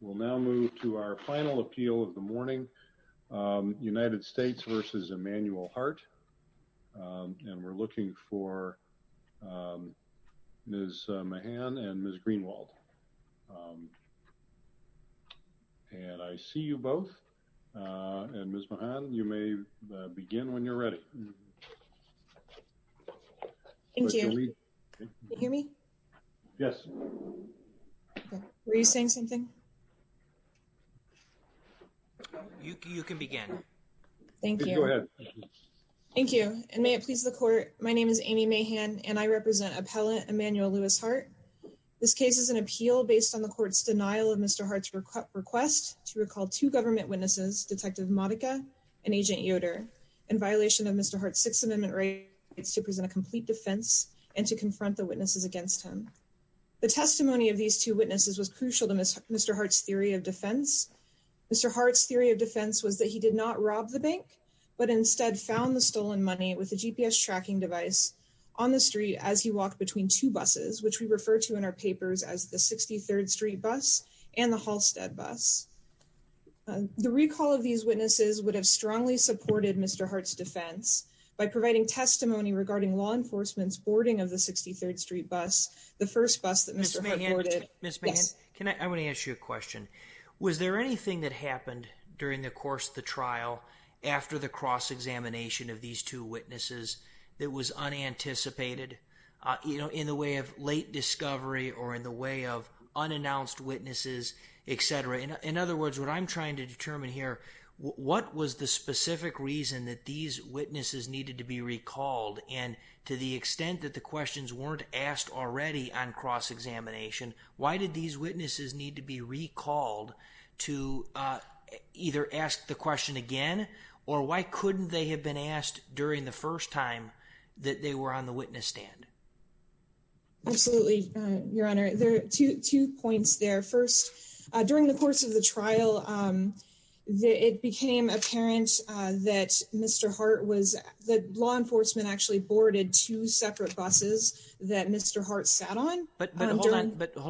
We'll now move to our final appeal of the morning, United States v. Emmanuel Hart. And we're looking for Ms. Mahan and Ms. Greenwald. And I see you both. And Ms. Mahan, you may begin when you're ready. Thank you. Can you hear me? Yes. Were you saying something? You can begin. Thank you. Go ahead. Thank you. And may it please the court. My name is Amy Mahan and I represent appellate Emmanuel Lewis Hart. This case is an appeal based on the court's denial of Mr. Hart's request to recall two government witnesses, Detective Modica and Agent Yoder in violation of Mr. Hart's Sixth Amendment rights to present a complete defense and to confront the witnesses against him. The testimony of these two witnesses was crucial to Mr. Hart's theory of defense. Mr. Hart's theory of defense was that he did not rob the bank, but instead found the stolen money with a GPS tracking device on the street as he walked between two buses, which we refer to in our papers as the 63rd Street bus and the Halstead bus. The recall of these witnesses would have strongly supported Mr. Hart's defense by providing testimony regarding law enforcement's boarding of the 63rd Street bus, the first bus that Mr. Hart boarded. Ms. Mahan, I wanna ask you a question. Was there anything that happened during the course of the trial after the cross-examination of these two witnesses that was unanticipated in the way of late discovery or in the way of unannounced witnesses, et cetera? In other words, what I'm trying to determine here, what was the specific reason that these witnesses needed to be recalled? And to the extent that the questions weren't asked already on cross-examination, why did these witnesses need to be recalled to either ask the question again, or why couldn't they have been asked during the first time that they were on the witness stand? Absolutely, Your Honor. There are two points there. First, during the course of the trial, it became apparent that Mr. Hart was, that law enforcement actually boarded two separate buses that Mr. Hart sat on. But hold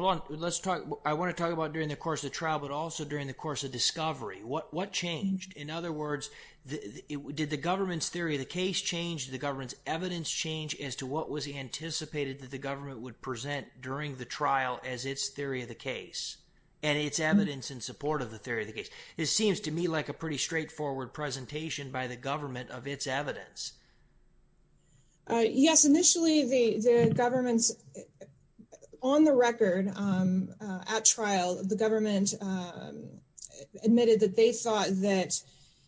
on, let's talk, I wanna talk about during the course of trial, but also during the course of discovery. What changed? In other words, did the government's theory of the case change, did the government's evidence change as to what was anticipated that the government would present during the trial as its theory of the case and its evidence in support of the theory of the case? It seems to me like a pretty straightforward presentation by the government of its evidence. Yes, initially the government's, on the record at trial, the government admitted that they thought that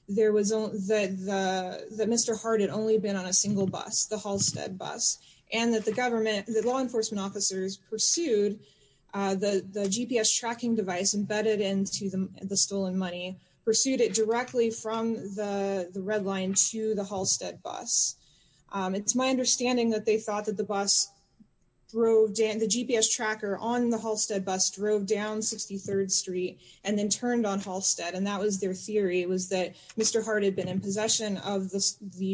Mr. Hart had only been on a single bus, the Halstead bus, and that the law enforcement officers pursued the GPS tracking device embedded into the stolen money, pursued it directly from the red line to the Halstead bus. It's my understanding that they thought that the bus drove down, the GPS tracker on the Halstead bus drove down 63rd Street and then turned on Halstead. And that was their theory, it was that Mr. Hart had been in possession of the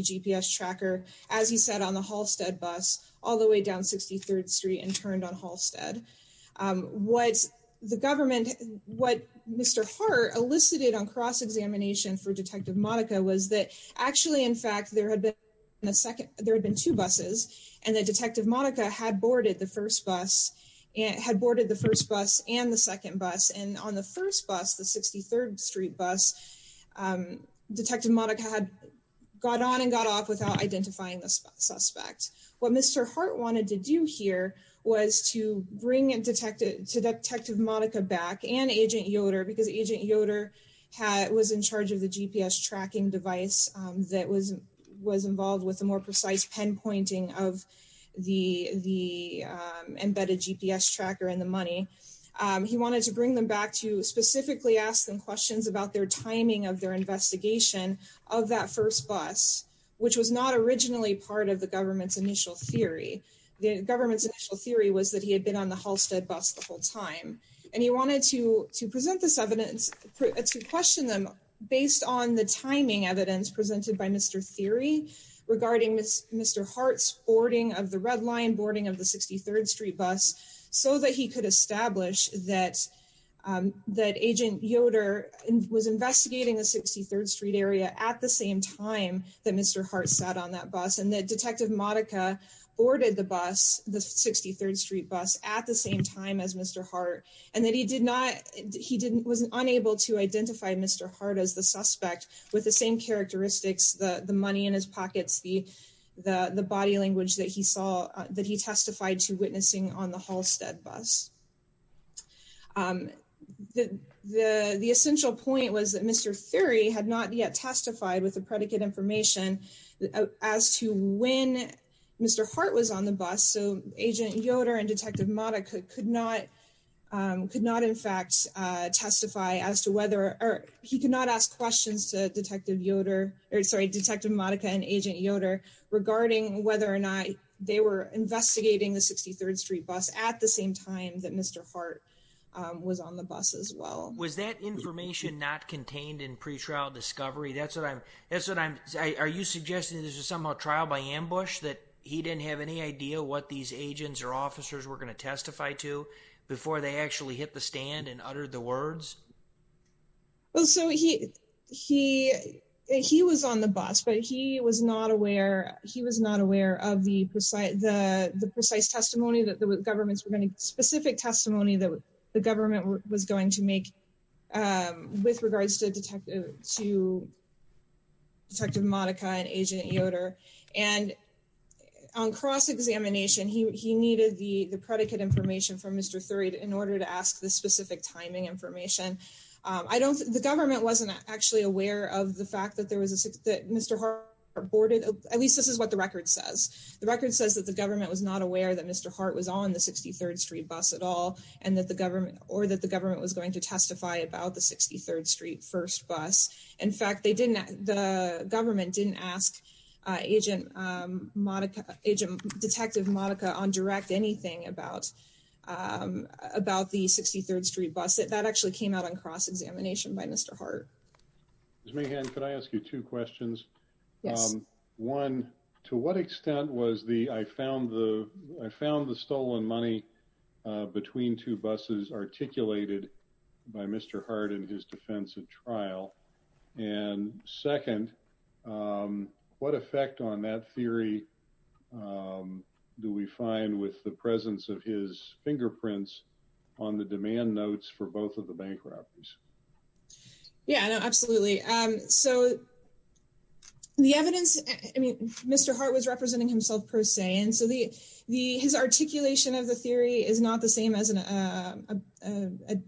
GPS tracker, as he said, on the Halstead bus, all the way down 63rd Street and turned on Halstead. What the government, what Mr. Hart elicited on cross-examination for Detective Monica was that actually, in fact, there had been two buses and that Detective Monica had boarded the first bus and had boarded the first bus and the second bus. And on the first bus, the 63rd Street bus, Detective Monica had got on and got off without identifying the suspect. What Mr. Hart wanted to do here was to bring Detective Monica back and Agent Yoder, because Agent Yoder was in charge of the GPS tracking device that was involved with a more precise pinpointing of the embedded GPS tracker in the money. He wanted to bring them back to specifically ask them questions about their timing of their investigation of that first bus, which was not originally part of the government's initial theory. The government's initial theory was that he had been on the Halstead bus the whole time. And he wanted to present this evidence to question them based on the timing evidence presented by Mr. Theory regarding Mr. Hart's boarding of the Red Line, boarding of the 63rd Street bus, so that he could establish that Agent Yoder was investigating the 63rd Street area at the same time that Mr. Hart sat on that bus. And that Detective Monica boarded the bus, the 63rd Street bus, at the same time as Mr. Hart, and that he was unable to identify Mr. Hart as the suspect with the same characteristics, the money in his pockets, the body language that he saw, that he testified to witnessing on the Halstead bus. The essential point was that Mr. Theory had not yet testified with the predicate information as to when Mr. Hart was on the bus. So Agent Yoder and Detective Monica could not in fact testify as to whether, or he could not ask questions to Detective Yoder, sorry, Detective Monica and Agent Yoder regarding whether or not they were investigating the 63rd Street bus at the same time that Mr. Hart was on the bus as well. Was that information not contained in pretrial discovery? That's what I'm, that's what I'm, are you suggesting that this was somehow trial by ambush, that he didn't have any idea what these agents or officers were gonna testify to before they actually hit the stand and uttered the words? Well, so he was on the bus, but he was not aware, he was not aware of the precise testimony that the governments were gonna, specific testimony that the government was going to make with regards to Detective Monica and Agent Yoder. And on cross-examination, he needed the predicate information from Mr. Theory in order to ask the specific timing information. I don't, the government wasn't actually aware of the fact that there was a, that Mr. Hart boarded, at least this is what the record says. The record says that the government was not aware that Mr. Hart was on the 63rd Street bus at all and that the government, or that the government was going to testify about the 63rd Street first bus. In fact, they didn't, the government didn't ask Detective Monica on direct anything about the 63rd Street bus. That actually came out on cross-examination by Mr. Hart. Ms. Mahan, could I ask you two questions? Yes. One, to what extent was the, I found the stolen money between two buses articulated by Mr. Hart in his defense of trial? And second, what effect on that theory do we find with the presence of his fingerprints on the demand notes for both of the bankruptcies? Yeah, no, absolutely. So the evidence, I mean, Mr. Hart was representing himself per se. And so the, his articulation of the theory is not the same as a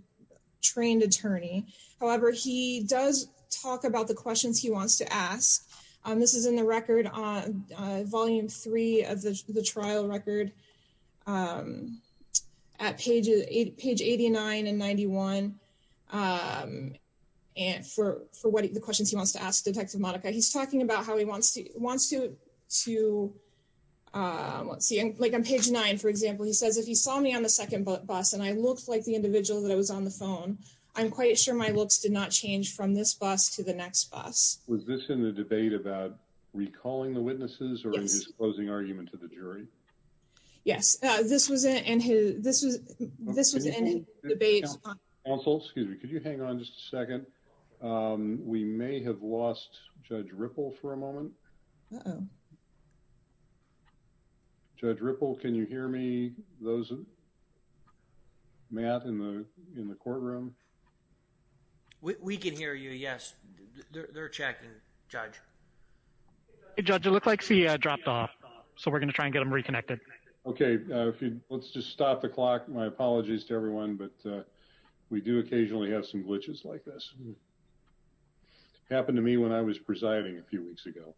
trained attorney. However, he does talk about the questions he wants to ask. This is in the record on volume three of the trial record at page 89 and 91. And for what, the questions he wants to ask Detective Monica, he's talking about how he wants to see, like on page nine, for example, he says, if he saw me on the second bus and I looked like the individual that I was on the phone, I'm quite sure my looks did not change from this bus to the next bus. Was this in the debate about recalling the witnesses or in his closing argument to the jury? Yes, this was in his debate. Counsel, excuse me, could you hang on just a second? We may have lost Judge Ripple for a moment. Uh-oh. Judge Ripple, can you hear me? Those, Matt in the courtroom? We can hear you, yes. They're checking, Judge. Judge, it looks like he dropped off. So we're gonna try and get him reconnected. Okay, let's just stop the clock. My apologies to everyone, but we do occasionally have some glitches like this. This happened to me when I was presiding a few weeks ago.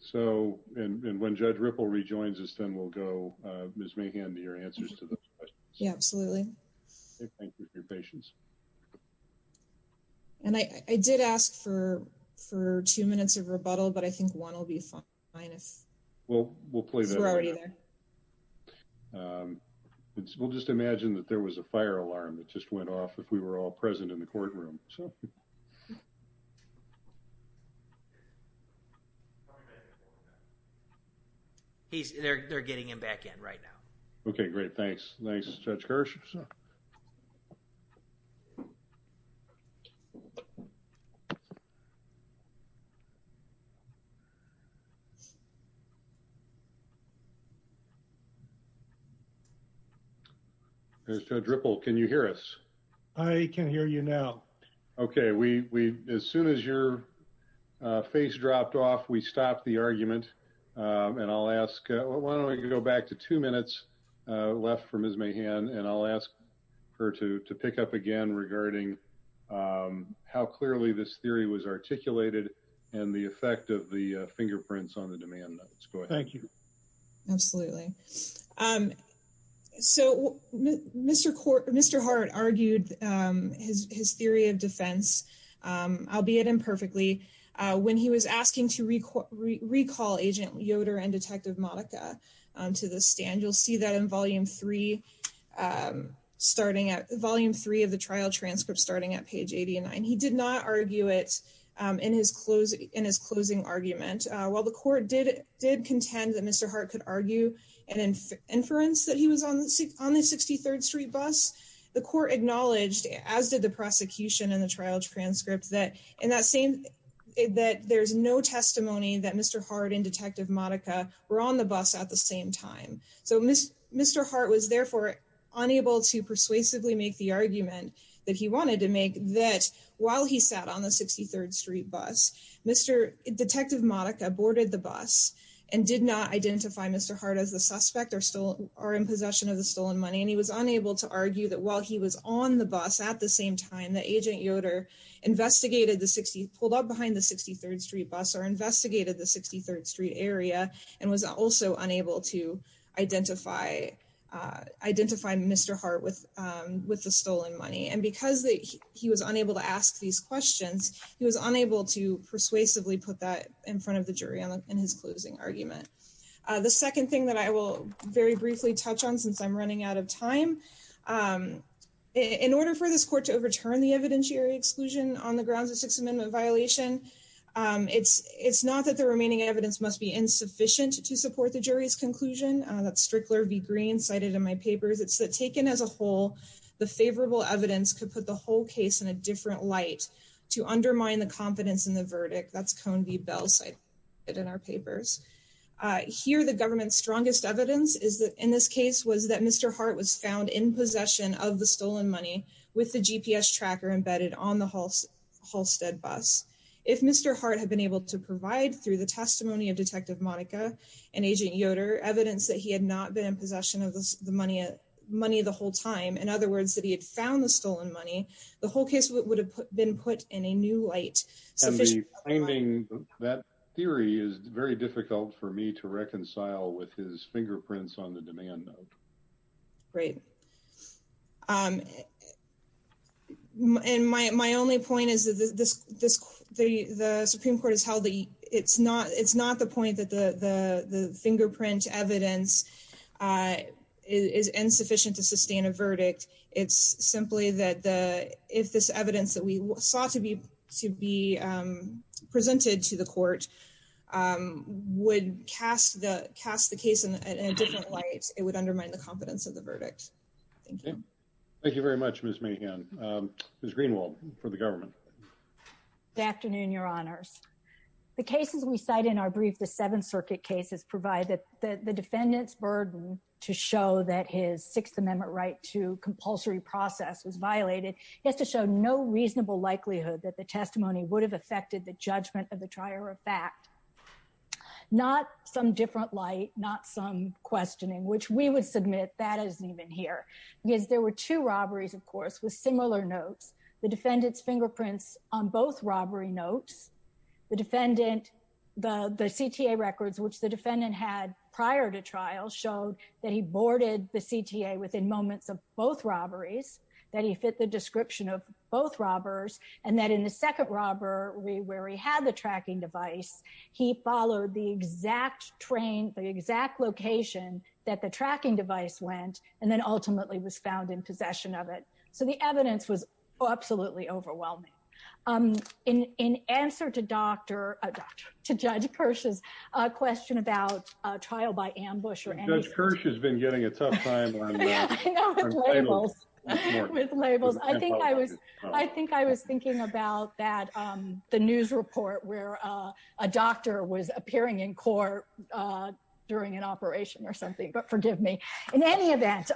So, and when Judge Ripple rejoins us, then we'll go, Ms. Mahan, your answers to those questions. Yeah, absolutely. Thank you for your patience. And I did ask for two minutes of rebuttal, but I think one will be fine. Well, we'll play that. Because we're already there. We'll just imagine that there was a fire alarm that just went off if we were all present in the courtroom, so. They're getting him back in right now. Okay, great, thanks. Thanks, Judge Kirsch. Okay. Judge Ripple, can you hear us? I can hear you now. Okay, we've, as soon as your face dropped off, we stopped the argument. And I'll ask, why don't we go back to two minutes left for Ms. Mahan, and I'll ask her to pick up again regarding how clearly this theory was articulated and the effect of the fingerprints on the demand notes. Go ahead. Thank you. Absolutely. So Mr. Hart argued his theory of defense, albeit imperfectly, when he was asking to recall Agent Yoder and Detective Monica to the stand. And you'll see that in volume three starting at, volume three of the trial transcript, starting at page 89. He did not argue it in his closing argument. While the court did contend that Mr. Hart could argue an inference that he was on the 63rd Street bus, the court acknowledged, as did the prosecution in the trial transcript, that in that same, that there's no testimony that Mr. Hart and Detective Monica were on the bus at the same time. Mr. Hart was therefore unable to persuasively make the argument that he wanted to make that while he sat on the 63rd Street bus, Mr. Detective Monica boarded the bus and did not identify Mr. Hart as the suspect or in possession of the stolen money. And he was unable to argue that while he was on the bus at the same time that Agent Yoder investigated the 60, pulled up behind the 63rd Street bus or investigated the 63rd Street area and was also unable to identify Mr. Hart with the stolen money. And because he was unable to ask these questions, he was unable to persuasively put that in front of the jury in his closing argument. The second thing that I will very briefly touch on since I'm running out of time, in order for this court to overturn the evidentiary exclusion on the grounds of Sixth Amendment violation, it's not that the remaining evidence must be insufficient to support the jury's conclusion. That's Strickler v. Green cited in my papers. It's that taken as a whole, the favorable evidence could put the whole case in a different light to undermine the confidence in the verdict. That's Cone v. Bell cited in our papers. Here, the government's strongest evidence is that in this case was that Mr. Hart was found in possession of the stolen money If Mr. Hart had been able to provide through the testimony of Detective Monica and Agent Yoder evidence that he had not been in possession of the money the whole time, in other words, that he had found the stolen money, the whole case would have been put in a new light. That theory is very difficult for me to reconcile with his fingerprints on the demand note. Great. And my only point is that the Supreme Court it's not the point that the fingerprint evidence is insufficient to sustain a verdict. It's simply that if this evidence that we saw to be presented to the court would cast the case in a different light, it would undermine the confidence of the verdict. Thank you. Thank you very much, Ms. Mahan. Ms. Greenwald, for the government. Good afternoon, your honors. The cases we cite in our brief, the Seventh Circuit cases provide that the defendant's burden to show that his Sixth Amendment right to compulsory process was violated, is to show no reasonable likelihood that the testimony would have affected the judgment of the trier of fact. Not some different light, not some questioning, which we would submit that isn't even here. Because there were two robberies, of course, with similar notes. The defendant's fingerprints on both robbery notes, the defendant, the CTA records, which the defendant had prior to trial showed that he boarded the CTA within moments of both robberies, that he fit the description of both robbers. And that in the second robbery where he had the tracking device, he followed the exact train, the exact location that the tracking device went, and then ultimately was found in possession of it. So the evidence was absolutely overwhelming. In answer to Dr., to Judge Kirsch's question about a trial by ambush or anything. Judge Kirsch has been getting a tough time on that. I know, with labels. With labels. I think I was thinking about that, the news report where a doctor was appearing in court during an operation or something, but forgive me. In any event,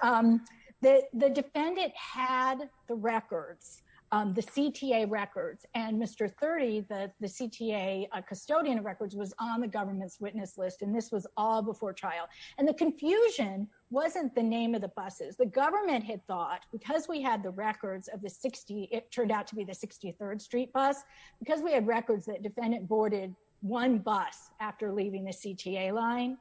the defendant had the records, the CTA records, and Mr. 30, the CTA custodian of records was on the government's witness list, and this was all before trial. And the confusion wasn't the name of the buses. The government had thought, because we had the records of the 60, it turned out to be the 63rd Street bus, because we had records that defendant boarded one bus after leaving the CTA line,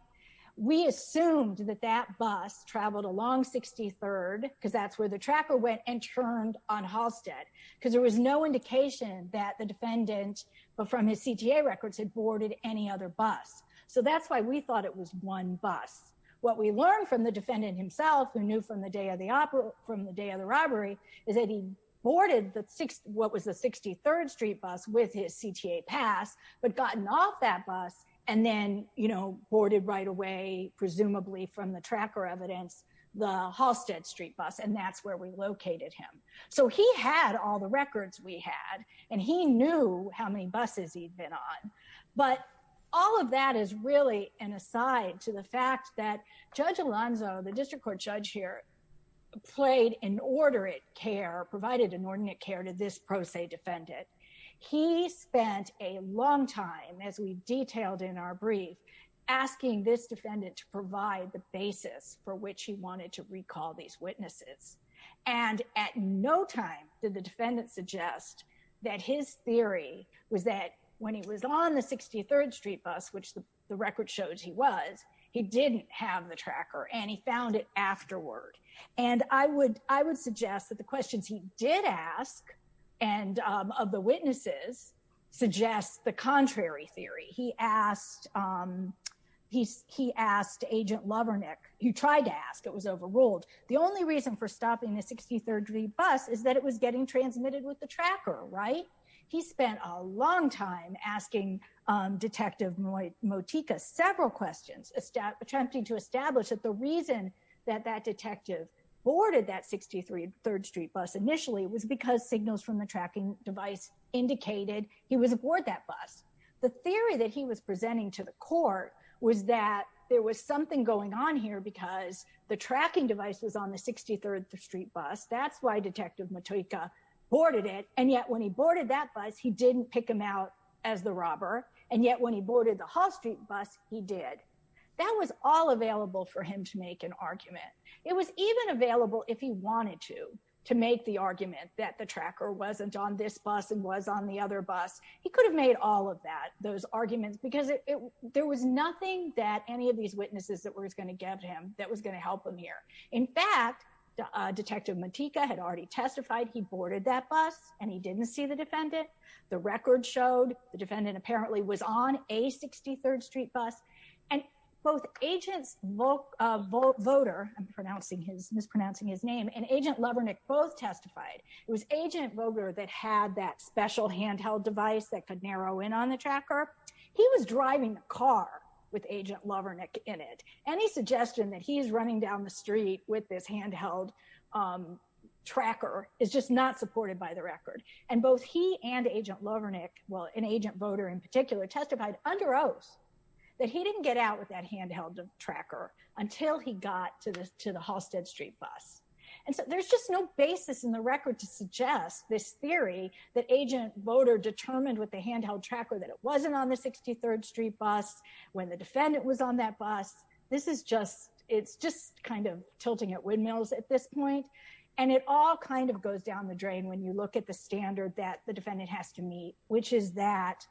we assumed that that bus traveled along 63rd, because that's where the tracker went and turned on Halstead. Because there was no indication that the defendant, but from his CTA records, had boarded any other bus. So that's why we thought it was one bus. What we learned from the defendant himself, who knew from the day of the robbery, is that he boarded what was the 63rd Street bus with his CTA pass, but gotten off that bus, and then boarded right away, presumably from the tracker evidence, the Halstead Street bus, and that's where we located him. So he had all the records we had, and he knew how many buses he'd been on. But all of that is really an aside to the fact that Judge Alonzo, the district court judge here, played inordinate care, provided inordinate care to this pro se defendant. He spent a long time, as we detailed in our brief, asking this defendant to provide the basis for which he wanted to recall these witnesses. And at no time did the defendant suggest that his theory was that when he was on the 63rd Street bus, which the record shows he was, he didn't have the tracker, and he found it afterward. And I would suggest that the questions he did ask, and of the witnesses, suggests the contrary theory. He asked Agent Lovernick, he tried to ask, it was overruled. The only reason for stopping the 63rd Street bus is that it was getting transmitted with the tracker, right? He spent a long time asking Detective Motika several questions, attempting to establish that the reason that that detective boarded that 63rd Street bus initially was because signals from the tracking device indicated he was aboard that bus. The theory that he was presenting to the court was that there was something going on here because the tracking device was on the 63rd Street bus. That's why Detective Motika boarded it. And yet when he boarded that bus, he didn't pick him out as the robber. And yet when he boarded the Hall Street bus, he did. That was all available for him to make an argument. It was even available if he wanted to, to make the argument that the tracker wasn't on this bus and was on the other bus. He could have made all of that, those arguments, because there was nothing that any of these witnesses that were gonna get him, that was gonna help him here. In fact, Detective Motika had already testified he boarded that bus and he didn't see the defendant. The record showed the defendant apparently was on a 63rd Street bus. And both Agents Voter, I'm mispronouncing his name, and Agent Lovernick both testified. It was Agent Voter that had that special handheld device that could narrow in on the tracker. He was driving the car with Agent Lovernick in it. Any suggestion that he's running down the street with this handheld tracker is just not supported by the record. And both he and Agent Lovernick, well, and Agent Voter in particular testified under oath that he didn't get out with that handheld tracker until he got to the Halstead Street bus. And so there's just no basis in the record to suggest this theory that Agent Voter determined with the handheld tracker that it wasn't on the 63rd Street bus when the defendant was on that bus. This is just, it's just kind of tilting at windmills at this point. And it all kind of goes down the drain when you look at the standard that the defendant has to meet, which is that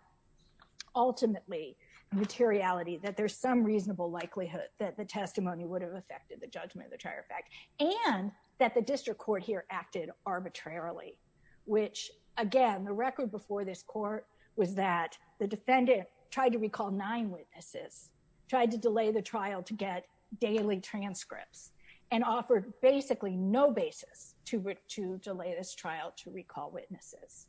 ultimately materiality, that there's some reasonable likelihood that the testimony would have affected the judgment of the trial effect and that the district court here acted arbitrarily, which again, the record before this court was that the defendant tried to recall nine witnesses, tried to delay the trial to get daily transcripts and offered basically no basis to delay this trial to recall witnesses.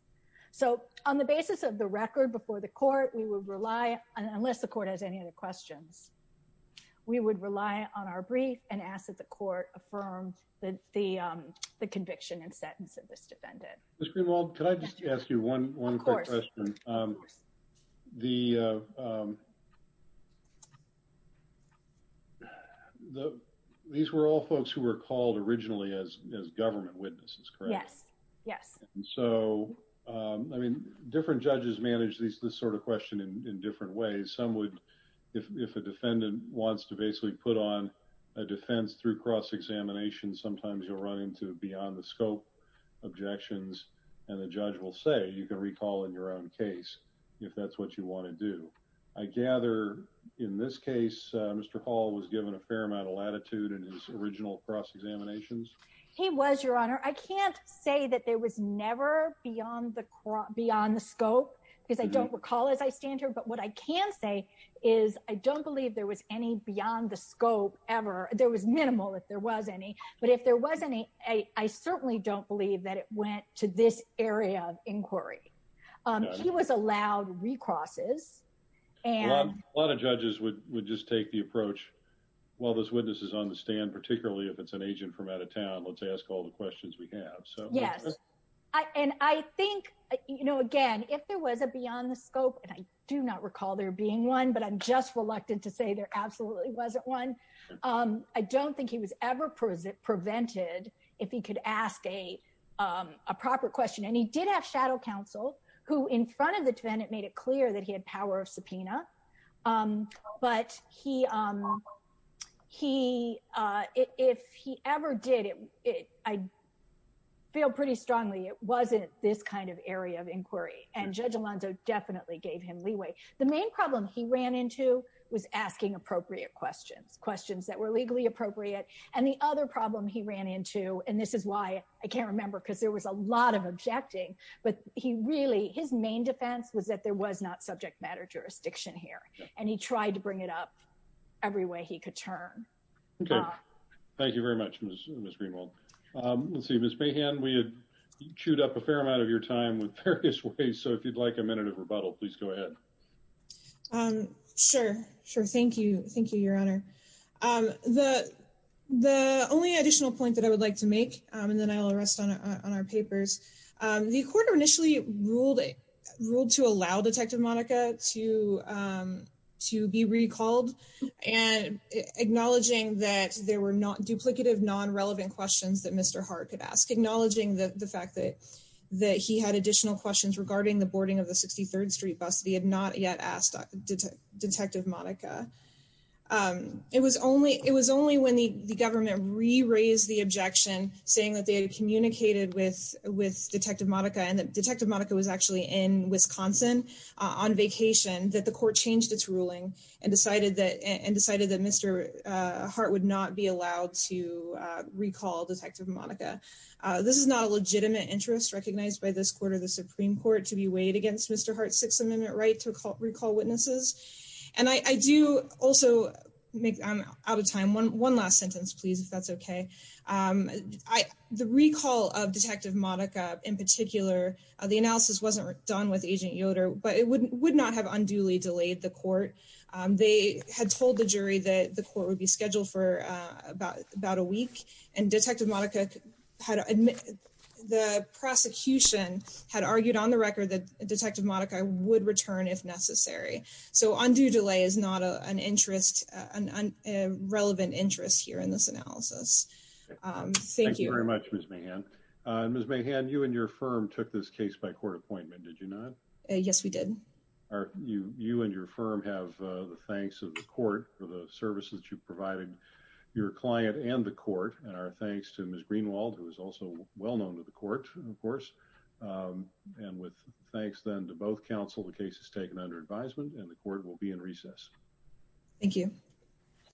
So on the basis of the record before the court, we would rely on, unless the court has any other questions, we would rely on our brief and ask that the court affirm the conviction and sentence of this defendant. Ms. Greenwald, can I just ask you one quick question? Of course. The, these were all folks who were called originally as government witnesses, correct? Yes, yes. And so, I mean, different judges manage this sort of question in different ways. Some would, if a defendant wants to basically put on a defense through cross-examination, sometimes you'll run into beyond the scope objections and the judge will say, you can recall in your own case if that's what you want to do. I gather in this case, Mr. Hall was given a fair amount of latitude in his original cross-examinations. He was, Your Honor. I can't say that there was never beyond the scope because I don't recall as I stand here, but what I can say is I don't believe there was any beyond the scope ever. There was minimal if there was any, but if there was any, I certainly don't believe that it went to this area of inquiry. He was allowed recrosses and- A lot of judges would just take the approach, while there's witnesses on the stand, particularly if it's an agent from out of town, let's ask all the questions we have. So- Yes. And I think, again, if there was a beyond the scope and I do not recall there being one, but I'm just reluctant to say there absolutely wasn't one. I don't think he was ever prevented if he could ask a proper question. And he did have shadow counsel who in front of the defendant made it clear that he had power of subpoena, but if he ever did, I feel pretty strongly, it wasn't this kind of area of inquiry and Judge Alonzo definitely gave him leeway. The main problem he ran into was asking appropriate questions, questions that were legally appropriate. And the other problem he ran into, and this is why I can't remember, because there was a lot of objecting, but he really, his main defense was that there was not subject matter jurisdiction here. And he tried to bring it up every way he could turn. Okay. Thank you very much, Ms. Greenwald. Let's see, Ms. Mahan, we had chewed up a fair amount of your time with various ways. So if you'd like a minute of rebuttal, please go ahead. Sure, sure. Thank you. Thank you, Your Honor. The only additional point that I would like to make, and then I'll rest on our papers, the court initially ruled to allow Detective Monica to be recalled and acknowledging that there were not duplicative non-relevant questions that Mr. Hart could ask. Acknowledging the fact that he had additional questions regarding the boarding of the 63rd Street bus that he had not yet asked Detective Monica. It was only when the government re-raised the objection saying that they had communicated with Detective Monica and that Detective Monica was actually in Wisconsin on vacation that the court changed its ruling and decided that Mr. Hart would not be allowed to recall Detective Monica. This is not a legitimate interest recognized by this court or the Supreme Court to be weighed against Mr. Hart's Sixth Amendment right to recall witnesses. And I do also make, I'm out of time. One last sentence, please, if that's okay. The recall of Detective Monica in particular, the analysis wasn't done with Agent Yoder, but it would not have unduly delayed the court. They had told the jury that the court would be scheduled for about a week and Detective Monica had admitted, the prosecution had argued on the record that Detective Monica would return if necessary. So undue delay is not an interest, a relevant interest here in this analysis. Thank you. Thank you very much, Ms. Mahan. Ms. Mahan, you and your firm took this case by court appointment, did you not? Yes, we did. You and your firm have the thanks of the court for the services you've provided your client and the court and our thanks to Ms. Greenwald, who is also well-known to the court, of course. And with thanks then to both counsel, the case is taken under advisement and the court will be in recess. Thank you.